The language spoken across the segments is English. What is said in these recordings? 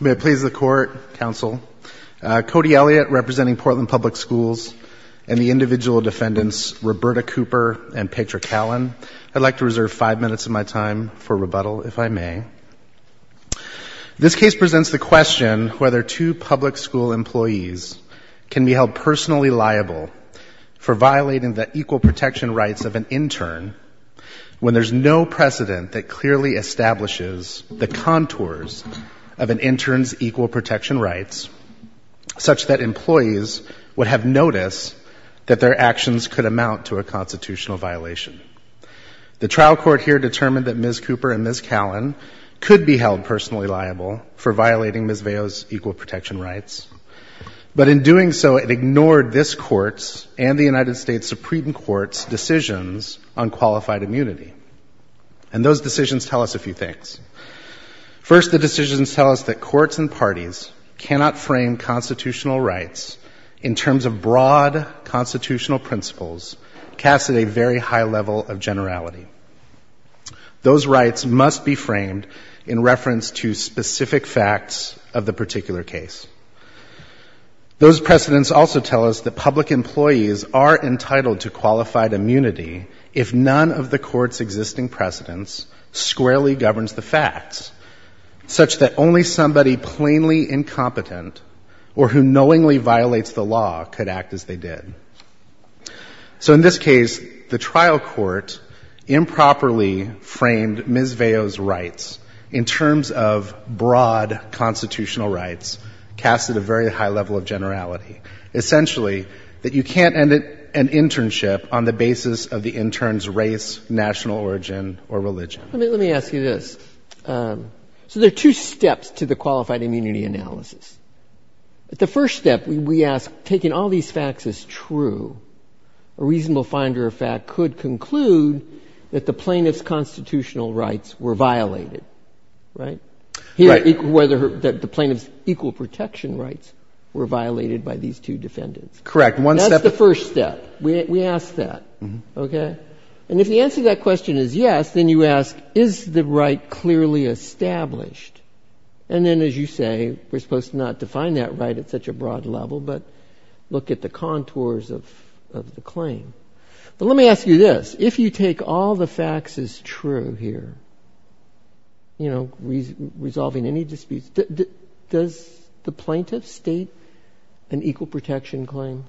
May it please the Court, Counsel, Cody Elliott, representing Portland Public Schools, and the individual defendants, Roberta Cooper and Patrick Allen. I'd like to reserve five minutes of my time for rebuttal, if I may. This case presents the question whether two public school employees can be held personally liable for violating the equal protection rights of an intern when there's no precedent that clearly establishes the contours of an intern's equal protection rights, such that employees would have noticed that their actions could amount to a constitutional violation. The trial court here determined that Ms. Cooper and Ms. Callen could be held personally liable for violating Ms. Vejo's equal protection rights, but in doing so it ignored this Court's and the United States Supreme Court's decisions on qualified immunity. And those decisions tell us a few things. First, the decisions tell us that courts and parties cannot frame constitutional rights in terms of broad constitutional principles cast at a very high level of generality. Those rights must be framed in reference to those precedents. Those precedents also tell us that public employees are entitled to qualified immunity if none of the Court's existing precedents squarely governs the facts, such that only somebody plainly incompetent or who knowingly violates the law could act as they did. So in this case, the trial court improperly framed Ms. Vejo's rights in terms of broad constitutional rights cast at a very high level of generality, essentially that you can't end an internship on the basis of the intern's race, national origin, or religion. Let me ask you this. So there are two steps to the qualified immunity analysis. The first step, we ask, taking all these facts as true, a reasonable finder of fact could conclude that the plaintiff's constitutional rights were violated, right? Right. Whether the plaintiff's equal protection rights were violated by these two defendants. Correct. That's the first step. We ask that, okay? And if the answer to that question is yes, then you ask, is the right clearly established? And then as you say, we're supposed to not define that right at such a broad level, but look at the contours of the claim. But let me ask you this. If you take all the facts as true here, you know, resolving any disputes, does the plaintiff state an equal protection claim?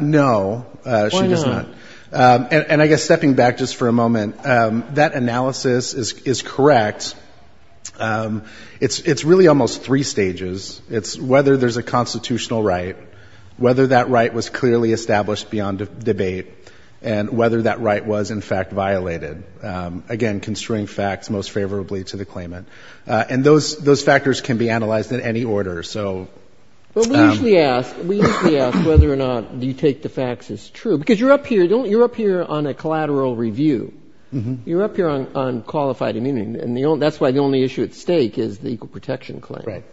No, she does not. Why not? And I guess stepping back just for a moment, that analysis is correct. It's really almost three stages. It's whether there's a constitutional right, whether that right was clearly established beyond debate, and whether that right was, in fact, violated. Again, construing facts most favorably to the claimant. And those factors can be analyzed in any order. But we usually ask whether or not you take the facts as true, because you're up here on a collateral review. You're up here on qualified immunity, and that's why the only issue at stake is the equal protection claim.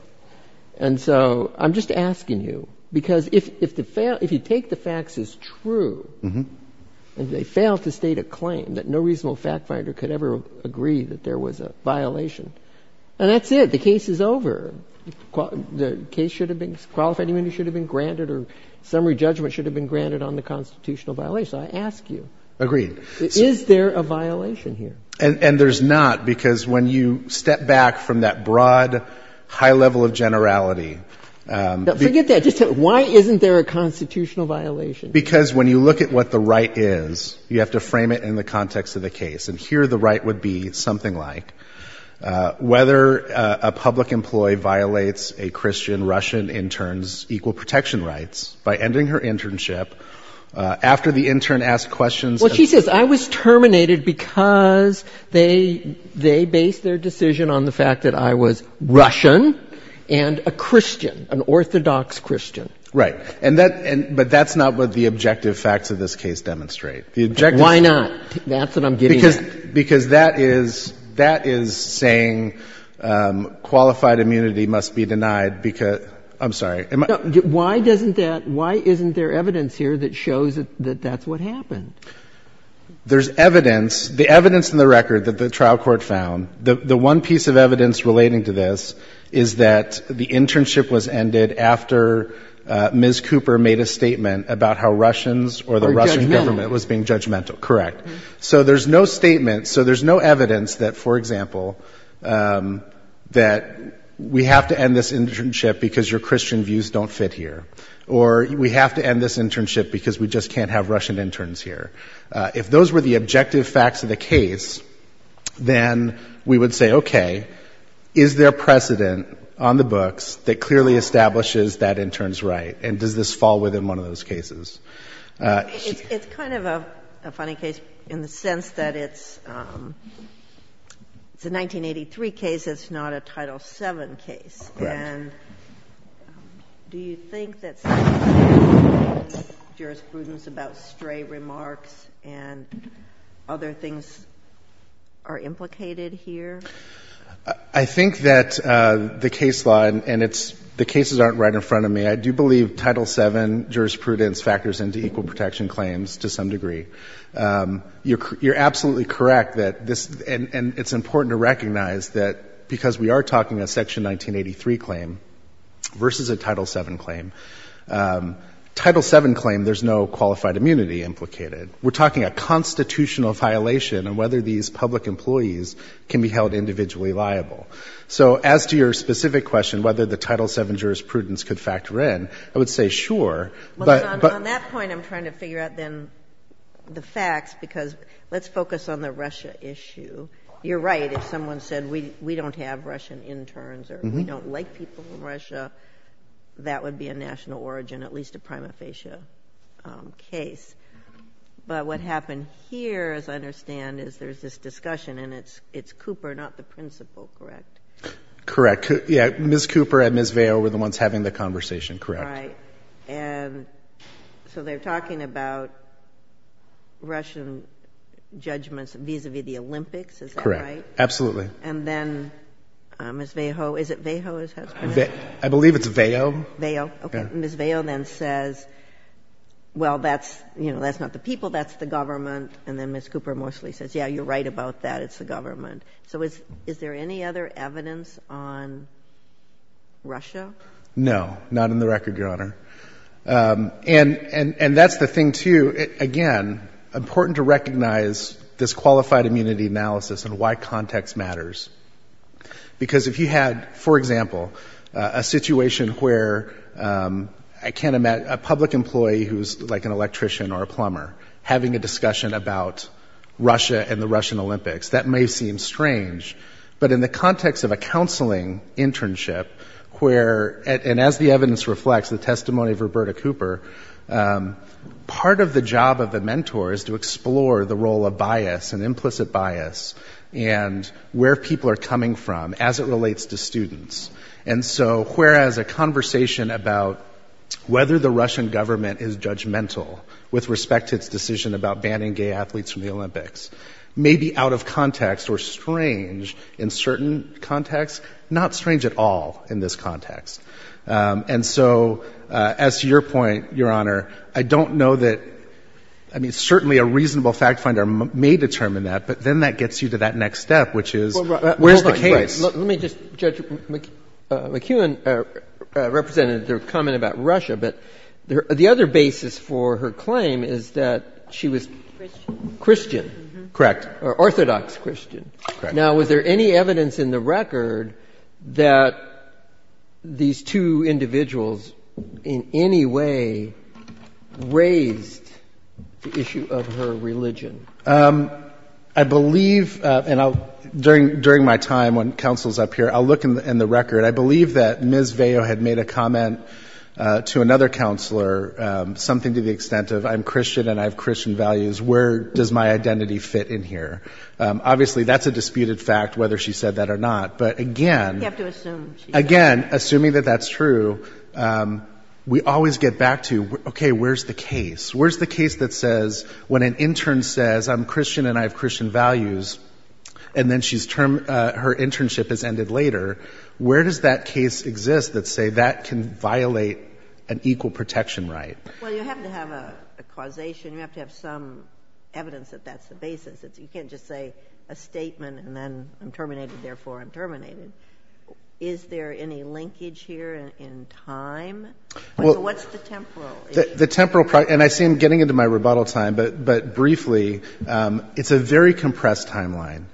And so I'm just asking you, because if you take the facts as true, and they fail to state a claim that no reasonable fact finder could ever agree that there was a violation, and that's it. The case is over. The case should have been, qualified immunity should have been granted, or summary judgment should have been granted on the constitutional violation. I ask you, is there a violation here? And there's not, because when you step back from that broad, high level of generality. Forget that. Just tell me, why isn't there a constitutional violation? Because when you look at what the right is, you have to frame it in the context of the case. And here the right would be something like, whether a public employee violates a Christian Russian intern's equal protection rights by ending her internship after the intern asked questions. Well, she says, I was terminated because they based their decision on the fact that I was Russian and a Christian, an orthodox Christian. Right. And that's not what the objective facts of this case demonstrate. Why not? That's what I'm getting at. Because that is saying qualified immunity must be denied. I'm sorry. Why isn't there evidence here that shows that that's what happened? There's evidence, the evidence in the record that the trial court found. The one piece of evidence relating to this is that the internship was ended after Ms. Cooper made a statement about how Russians or the Russian government was being judgmental. Correct. So there's no statement. So there's no evidence that, for example, that we have to end this internship because your Christian views don't fit here, or we have to end this internship because we just can't have Russian interns here. If those were the objective facts of the case, then we would say, OK, is there precedent on the books that clearly establishes that intern's right? And does this fall within one of those cases? It's kind of a funny case in the sense that it's a 1983 case. It's not a Title VII case. And do you think that's jurisprudence about stray remarks and other things are implicated here? I think that the case law and it's the cases aren't right in front of me. I do believe Title VII jurisprudence factors into equal protection claims to some degree. You're absolutely correct that this and it's important to recognize that because we are talking a Section 1983 claim versus a Title VII claim, Title VII claim, there's no qualified immunity implicated. We're talking a constitutional violation and whether these public employees can be held individually liable. So as to your specific question, whether the Title VII jurisprudence could factor in, I would say, sure. On that point, I'm trying to figure out then the facts because let's focus on the Russia issue. You're right if someone said we don't have Russian interns or we don't like people from Russia, that would be a national origin, at least a prima facie case. But what happened here, as I understand, is there's this discussion and it's Cooper, not the principal, correct? Correct. Yeah, Ms. Cooper and Ms. Vail were the ones having the conversation, correct. And so they're talking about Russian judgments vis-a-vis the Olympics, is that right? Correct. Absolutely. And then Ms. Vail, is it Vail? I believe it's Vail. Vail, okay. Ms. Vail then says, well, that's not the people, that's the government. And then Ms. Cooper mostly says, yeah, you're right about that, it's the government. So is there any other evidence on Russia? No, not in the record, Your Honor. And that's the thing too, again, important to recognize this qualified immunity analysis and why context matters. Because if you had, for example, a situation where a public employee who's like an electrician or a plumber having a discussion about Russia and the Russian Olympics, that may seem strange. But in the context of a counseling internship where, and as the evidence reflects, the testimony of Roberta Cooper, part of the job of the mentor is to explore the role of bias and implicit bias and where people are coming from as it relates to students. And so whereas a conversation about whether the Russian government is judgmental with respect to its decision about banning gay athletes from the Olympics may be out of context or strange in certain contexts, not strange at all in this context. And so as to your point, Your Honor, I don't know that, I mean, certainly a reasonable fact finder may determine that. But then that gets you to that next step, which is where's the case? Let me just, Judge McEwen represented their comment about Russia. But the other basis for her claim is that she was Christian. Correct. Or orthodox Christian. Correct. Now, was there any evidence in the record that these two individuals in any way raised the issue of her religion? I believe, and during my time when counsel's up here, I'll look in the record. I believe that Ms. Vejo had made a comment to another counselor, something to the extent of, I'm Christian and I have Christian values, where does my identity fit in here? Obviously, that's a disputed fact, whether she said that or not. But again, assuming that that's true, we always get back to, okay, where's the case? Where's the case that says when an intern says, I'm Christian and I have Christian values, and then her internship has ended later, where does that case exist that say that can violate an equal protection right? Well, you have to have a causation. You have to have some evidence that that's the basis. You can't just say a statement and then I'm terminated, therefore I'm terminated. Is there any linkage here in time? What's the temporal? The temporal, and I see I'm getting into my rebuttal time, but briefly, it's a very compressed timeline.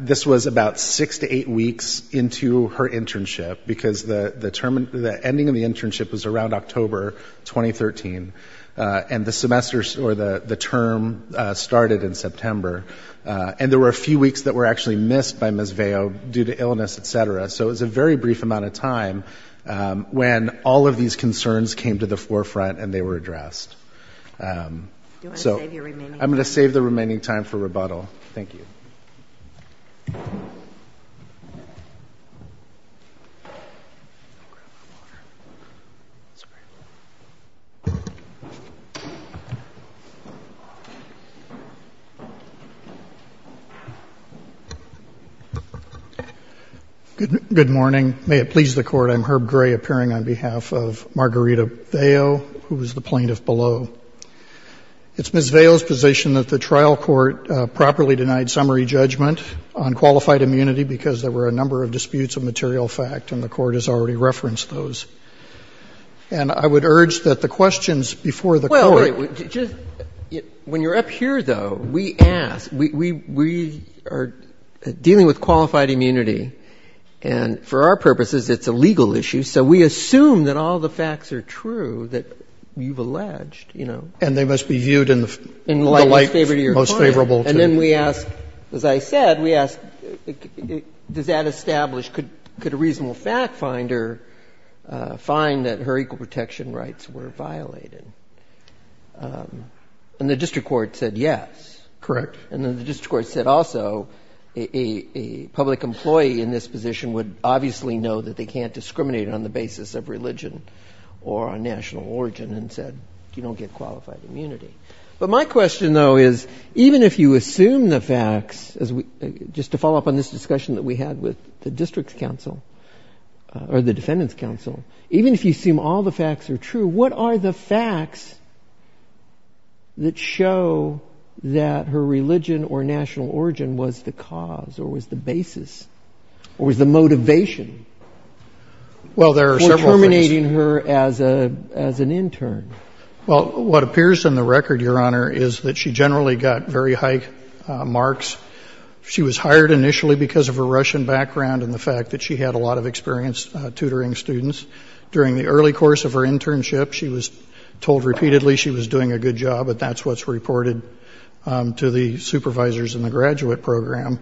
This was about six to eight weeks into her internship because the ending of the internship was around October 2013, and the semester or the term started in September. And there were a few weeks that were actually missed by Ms. Vejo due to illness, et cetera. So it was a very brief amount of time when all of these concerns came to the forefront and they were addressed. Do you want to save your remaining time? Time for rebuttal. Thank you. Good morning. May it please the Court, I'm Herb Gray appearing on behalf of Margarita Vejo, who is the plaintiff below. It's Ms. Vejo's position that the trial court properly denied summary judgment on qualified immunity because there were a number of disputes of material fact and the court has already referenced those. And I would urge that the questions before the court. Well, wait. When you're up here, though, we ask. We are dealing with qualified immunity, and for our purposes it's a legal issue, so we assume that all the facts are true that you've alleged. And they must be viewed in the light most favorable to you. And then we ask, as I said, we ask, does that establish, could a reasonable fact finder find that her equal protection rights were violated? And the district court said yes. Correct. And then the district court said also a public employee in this position would obviously know that they can't discriminate on the basis of religion or national origin and said you don't get qualified immunity. But my question, though, is even if you assume the facts, just to follow up on this discussion that we had with the district's counsel or the defendant's counsel, even if you assume all the facts are true, what are the facts that show that her religion or national origin was the cause or was the basis or was the motivation for terminating her as an intern? Well, what appears in the record, Your Honor, is that she generally got very high marks. She was hired initially because of her Russian background and the fact that she had a lot of experience tutoring students. During the early course of her internship, she was told repeatedly she was doing a good job, but that's what's reported to the supervisors in the graduate program.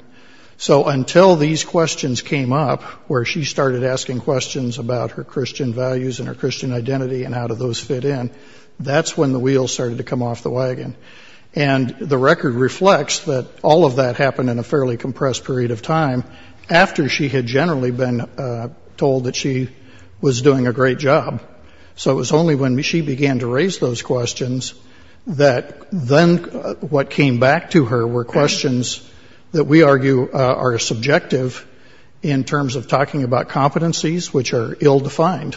So until these questions came up where she started asking questions about her Christian values and her Christian identity and how do those fit in, that's when the wheels started to come off the wagon. And the record reflects that all of that happened in a fairly compressed period of time after she had generally been told that she was doing a great job. So it was only when she began to raise those questions that then what came back to her were questions that we argue are subjective in terms of talking about competencies which are ill-defined.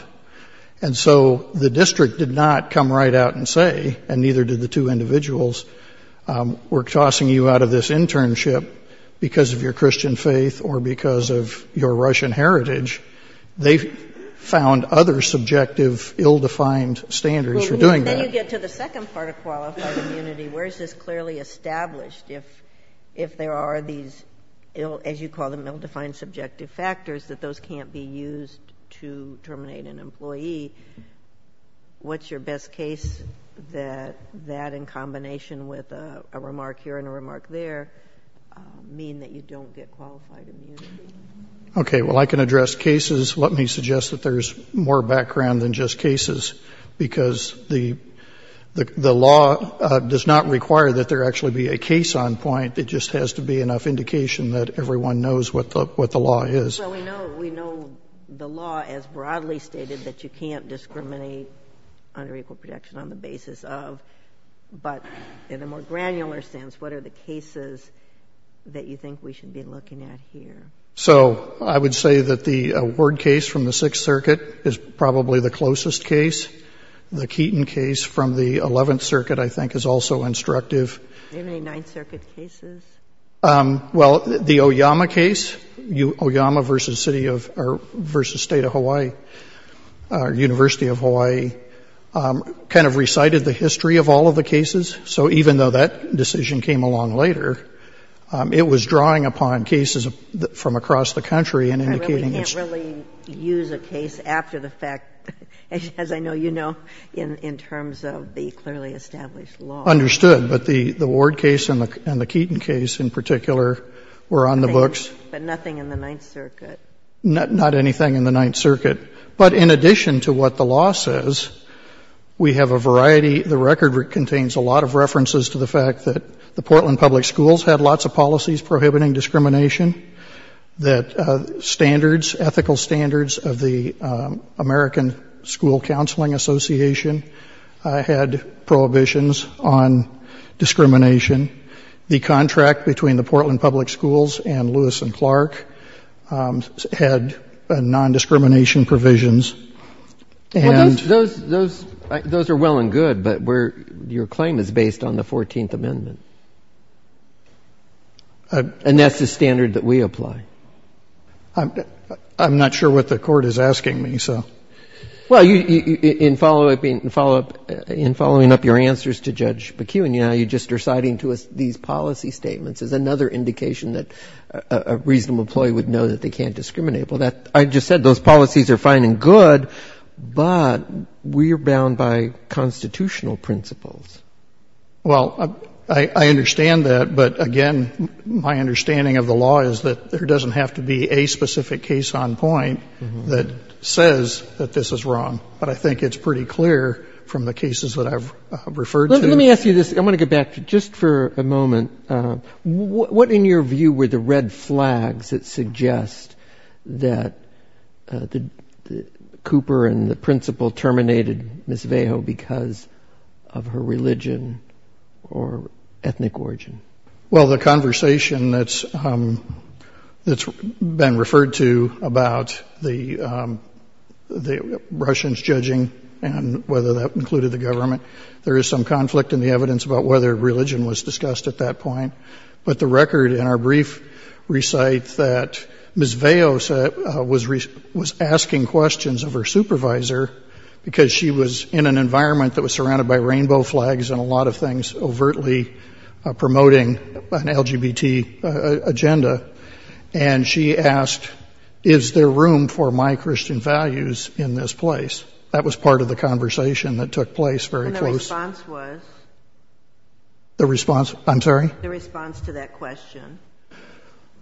And so the district did not come right out and say, and neither did the two individuals, we're tossing you out of this internship because of your Christian faith or because of your Russian heritage. They found other subjective, ill-defined standards for doing that. And then you get to the second part of qualified immunity. Where is this clearly established? If there are these, as you call them, ill-defined subjective factors, that those can't be used to terminate an employee, what's your best case that that in combination with a remark here and a remark there mean that you don't get qualified immunity? Okay, well, I can address cases. Let me suggest that there's more background than just cases because the law does not require that there actually be a case on point. It just has to be enough indication that everyone knows what the law is. So we know the law as broadly stated that you can't discriminate under equal protection on the basis of, but in a more granular sense, what are the cases that you think we should be looking at here? So I would say that the Ward case from the Sixth Circuit is probably the closest case. The Keaton case from the Eleventh Circuit, I think, is also instructive. Are there any Ninth Circuit cases? Well, the Oyama case, Oyama versus State of Hawaii, University of Hawaii, kind of recited the history of all of the cases. So even though that decision came along later, it was drawing upon cases from across the country and indicating its own. We can't really use a case after the fact, as I know you know, in terms of the clearly established law. Understood. But the Ward case and the Keaton case in particular were on the books. But nothing in the Ninth Circuit. Not anything in the Ninth Circuit. But in addition to what the law says, we have a variety. The record contains a lot of references to the fact that the Portland Public Schools had lots of policies prohibiting discrimination, that standards, ethical standards of the American School Counseling Association had prohibitions on discrimination. The contract between the Portland Public Schools and Lewis and Clark had non-discrimination provisions. Well, those are well and good, but your claim is based on the 14th Amendment. And that's the standard that we apply. I'm not sure what the Court is asking me, so. Well, in following up your answers to Judge McKeown, you know, you're just reciting to us these policy statements as another indication that a reasonable employee would know that they can't discriminate. Well, I just said those policies are fine and good, but we are bound by constitutional principles. Well, I understand that. But, again, my understanding of the law is that there doesn't have to be a specific case on point that says that this is wrong. But I think it's pretty clear from the cases that I've referred to. Let me ask you this. I want to go back just for a moment. What, in your view, were the red flags that suggest that Cooper and the principal terminated Ms. Vajo because of her religion or ethnic origin? Well, the conversation that's been referred to about the Russians judging and whether that included the government, there is some conflict in the evidence about whether religion was discussed at that point. But the record in our brief recites that Ms. Vajo was asking questions of her supervisor because she was in an environment that was surrounded by rainbow flags and a lot of things overtly promoting an LGBT agenda. And she asked, is there room for my Christian values in this place? And the response was? The response? I'm sorry? The response to that question.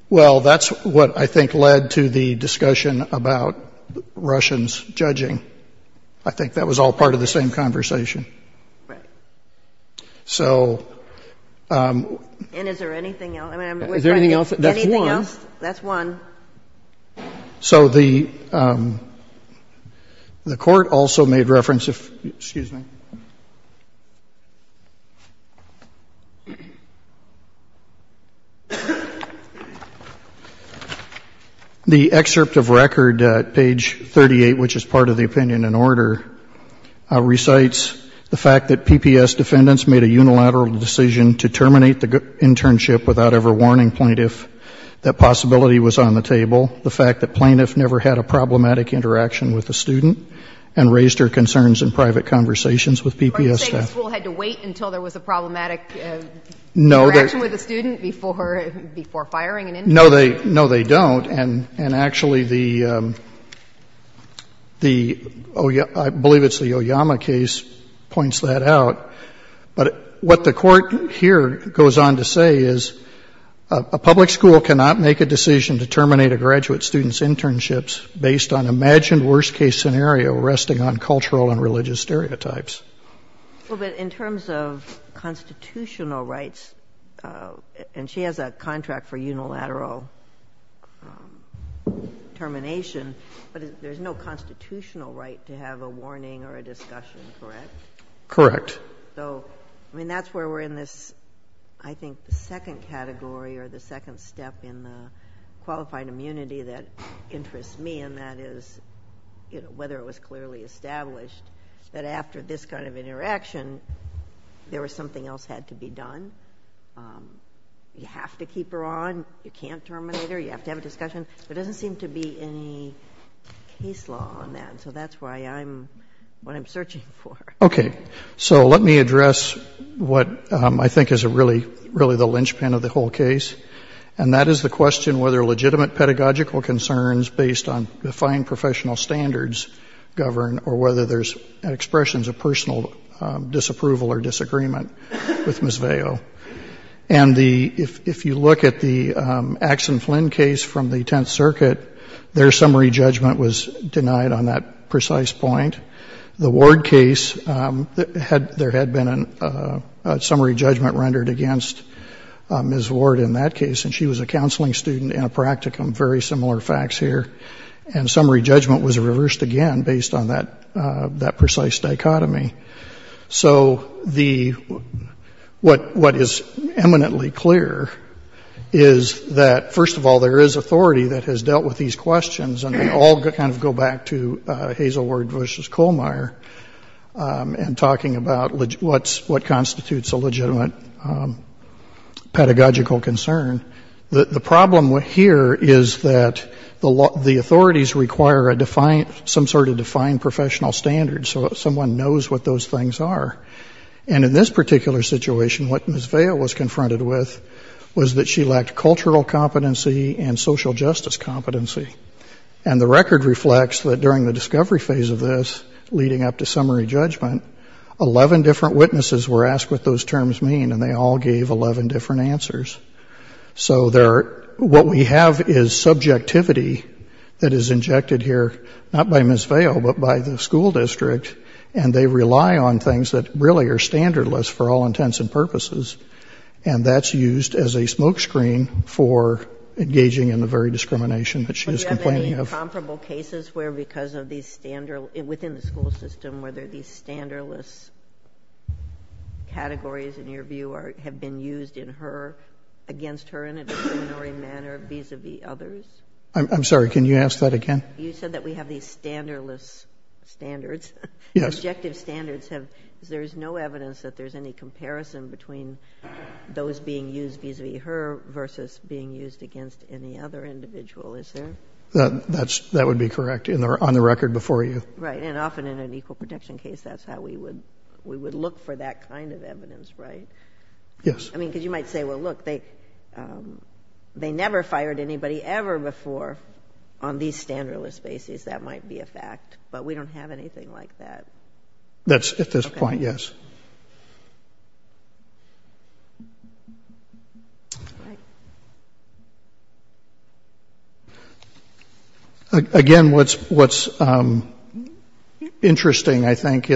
Well, that's what I think led to the discussion about Russians judging. I think that was all part of the same conversation. Right. And is there anything else? Is there anything else? That's one. Anything else? That's one. So the court also made reference, excuse me, the excerpt of record at page 38, which is part of the opinion in order, recites the fact that PPS defendants made a unilateral decision to terminate the internship without ever warning plaintiff that possibility was on the table, the fact that plaintiff never had a problematic interaction with a student and raised her concerns in private conversations with PPS staff. Are you saying the school had to wait until there was a problematic interaction with a student before firing an intern? No, they don't. And actually, I believe it's the Oyama case points that out. But what the court here goes on to say is a public school cannot make a decision to terminate a graduate student's internships based on imagined worst-case scenario resting on cultural and religious stereotypes. Well, but in terms of constitutional rights, and she has a contract for unilateral termination, but there's no constitutional right to have a warning or a discussion, correct? Correct. So, I mean, that's where we're in this, I think, second category or the second step in the qualified immunity that interests me, and that is whether it was clearly established that after this kind of interaction, there was something else had to be done. You have to keep her on. You can't terminate her. You have to have a discussion. There doesn't seem to be any case law on that, so that's what I'm searching for. Okay. So let me address what I think is really the linchpin of the whole case, and that is the question whether legitimate pedagogical concerns based on defined professional standards govern or whether there's expressions of personal disapproval or disagreement with Ms. Vail. And if you look at the Axon Flynn case from the Tenth Circuit, their summary judgment was denied on that precise point. The Ward case, there had been a summary judgment rendered against Ms. Ward in that case, and she was a counseling student in a practicum, very similar facts here, and summary judgment was reversed again based on that precise dichotomy. So what is eminently clear is that, first of all, there is authority that has dealt with these questions, and they all kind of go back to Hazel Ward v. Kohlmeier and talking about what constitutes a legitimate pedagogical concern. The problem here is that the authorities require some sort of defined professional standard so that someone knows what those things are. And in this particular situation, what Ms. Vail was confronted with was that she lacked cultural competency and social justice competency. And the record reflects that during the discovery phase of this, leading up to summary judgment, 11 different witnesses were asked what those terms mean, and they all gave 11 different answers. So what we have is subjectivity that is injected here, not by Ms. Vail, but by the school district, and they rely on things that really are standardless for all intents and purposes, and that's used as a smokescreen for engaging in the very discrimination that she is complaining of. Do you have any comparable cases where, because of these standards within the school system, whether these standardless categories, in your view, have been used against her in a discriminatory manner vis-a-vis others? I'm sorry. Can you ask that again? You said that we have these standardless standards. Yes. There's no evidence that there's any comparison between those being used vis-a-vis her versus being used against any other individual, is there? That would be correct on the record before you. Right, and often in an equal protection case, that's how we would look for that kind of evidence, right? Yes. I mean, because you might say, well, look, they never fired anybody ever before on these standardless bases. That might be a fact, but we don't have anything like that. At this point, yes. Again, what's interesting, I think,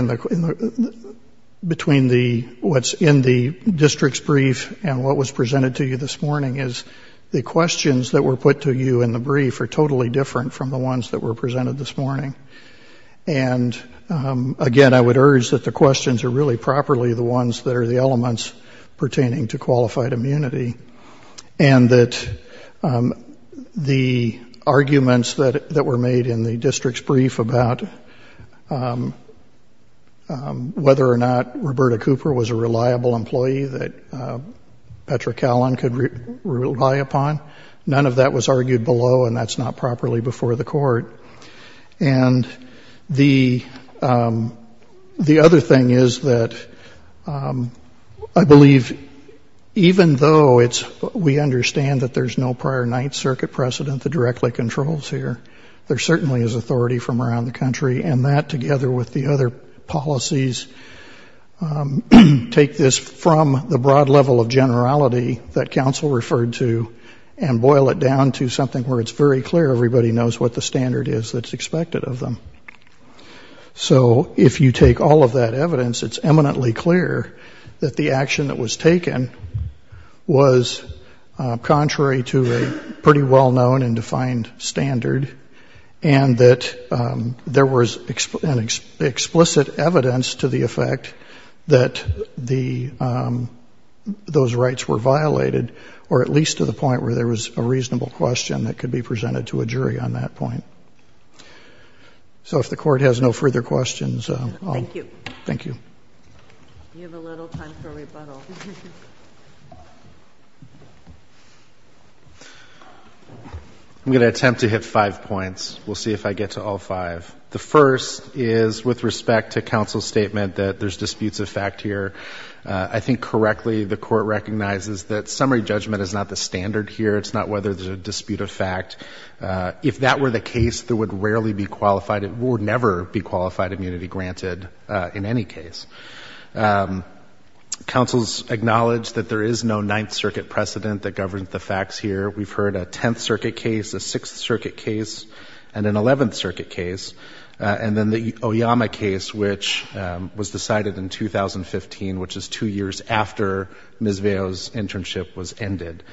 between what's in the district's brief and what was presented to you this morning is the questions that were put to you in the brief are totally different from the ones that were presented this morning. And, again, I would urge that the questions are really properly the ones that are the elements pertaining to qualified immunity and that the arguments that were made in the district's brief about whether or not Roberta Cooper was a reliable employee that Petra Callan could rely upon, none of that was argued below, and that's not properly before the court. And the other thing is that I believe even though we understand that there's no prior Ninth Circuit precedent that directly controls here, there certainly is authority from around the country, and that together with the other policies take this from the broad level of generality that counsel referred to and boil it down to something where it's very clear everybody knows what the standard is that's expected of them. So if you take all of that evidence, it's eminently clear that the action that was taken was contrary to a pretty well-known and defined standard and that there was explicit evidence to the effect that those rights were violated, or at least to the point where there was a reasonable question that could be presented to a jury on that point. So if the court has no further questions, I'll thank you. We have a little time for rebuttal. I'm going to attempt to hit five points. We'll see if I get to all five. The first is with respect to counsel's statement that there's disputes of fact here. I think correctly the court recognizes that summary judgment is not the standard here. It's not whether there's a dispute of fact. If that were the case, there would rarely be qualified and would never be qualified immunity granted in any case. Counsel's acknowledged that there is no Ninth Circuit precedent that governs the facts here. We've heard a Tenth Circuit case, a Sixth Circuit case, and an Eleventh Circuit case, and then the Oyama case, which was decided in 2015, which is two years after Ms. Veo's internship was ended.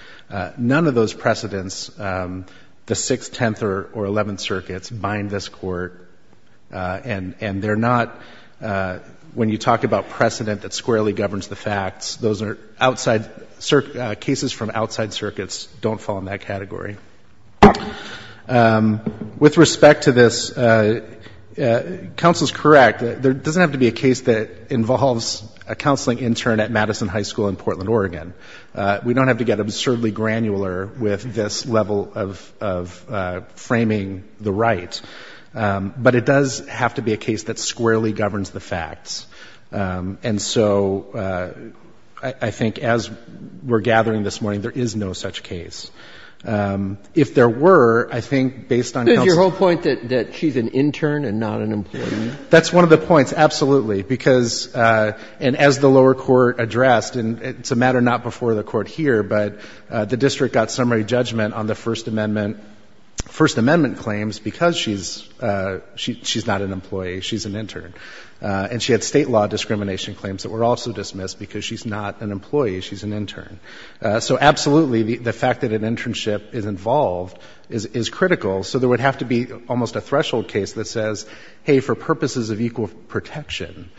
None of those precedents, the Sixth, Tenth, or Eleventh Circuits, bind this court. And they're not, when you talk about precedent that squarely governs the facts, those are cases from outside circuits don't fall in that category. With respect to this, counsel's correct. There doesn't have to be a case that involves a counseling intern at Madison High School in Portland, Oregon. We don't have to get absurdly granular with this level of framing the right. But it does have to be a case that squarely governs the facts. And so I think as we're gathering this morning, there is no such case. If there were, I think based on counsel's point that she's an intern and not an employee. That's one of the points, absolutely. Because, and as the lower court addressed, and it's a matter not before the court here, but the district got summary judgment on the First Amendment claims because she's not an employee, she's an intern. And she had state law discrimination claims that were also dismissed because she's not an employee, she's an intern. So absolutely, the fact that an internship is involved is critical. So there would have to be almost a threshold case that says, hey, for purposes of equal protection,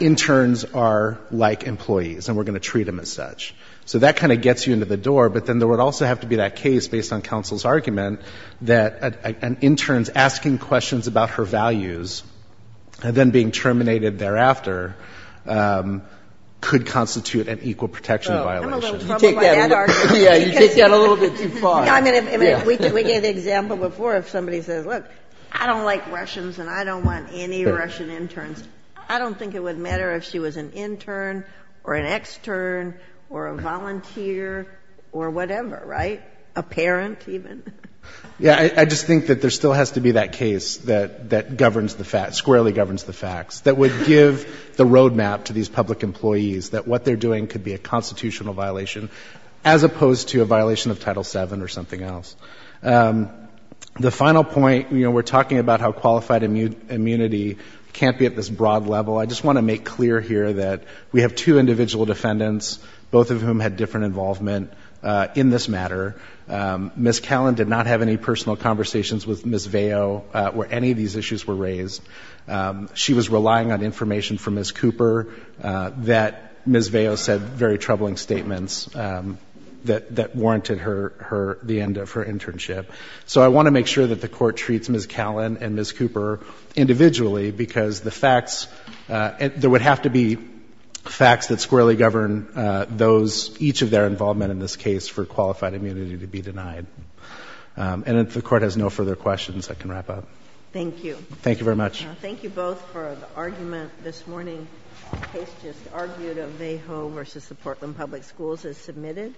interns are like employees and we're going to treat them as such. So that kind of gets you into the door. But then there would also have to be that case, based on counsel's argument, that an intern's asking questions about her values and then being terminated thereafter could constitute an equal protection violation. You take that a little bit too far. I mean, we gave the example before if somebody says, look, I don't like Russians and I don't want any Russian interns, I don't think it would matter if she was an intern or an extern or a volunteer or whatever, right? A parent even. Yeah, I just think that there still has to be that case that governs the facts, squarely governs the facts, that would give the roadmap to these public employees that what they're doing could be a constitutional violation as opposed to a violation of Title VII or something else. The final point, you know, we're talking about how qualified immunity can't be at this broad level. I just want to make clear here that we have two individual defendants, both of whom had different involvement in this matter. Ms. Callan did not have any personal conversations with Ms. Veo where any of these issues were raised. She was relying on information from Ms. Cooper that Ms. Veo said very troubling statements that warranted the end of her internship. So I want to make sure that the Court treats Ms. Callan and Ms. Cooper individually because the facts, there would have to be facts that squarely govern those, each of their involvement in this case for qualified immunity to be denied. And if the Court has no further questions, I can wrap up. Thank you. Thank you very much. Thank you both for the argument this morning. The case just argued of Vejo versus the Portland Public Schools is submitted.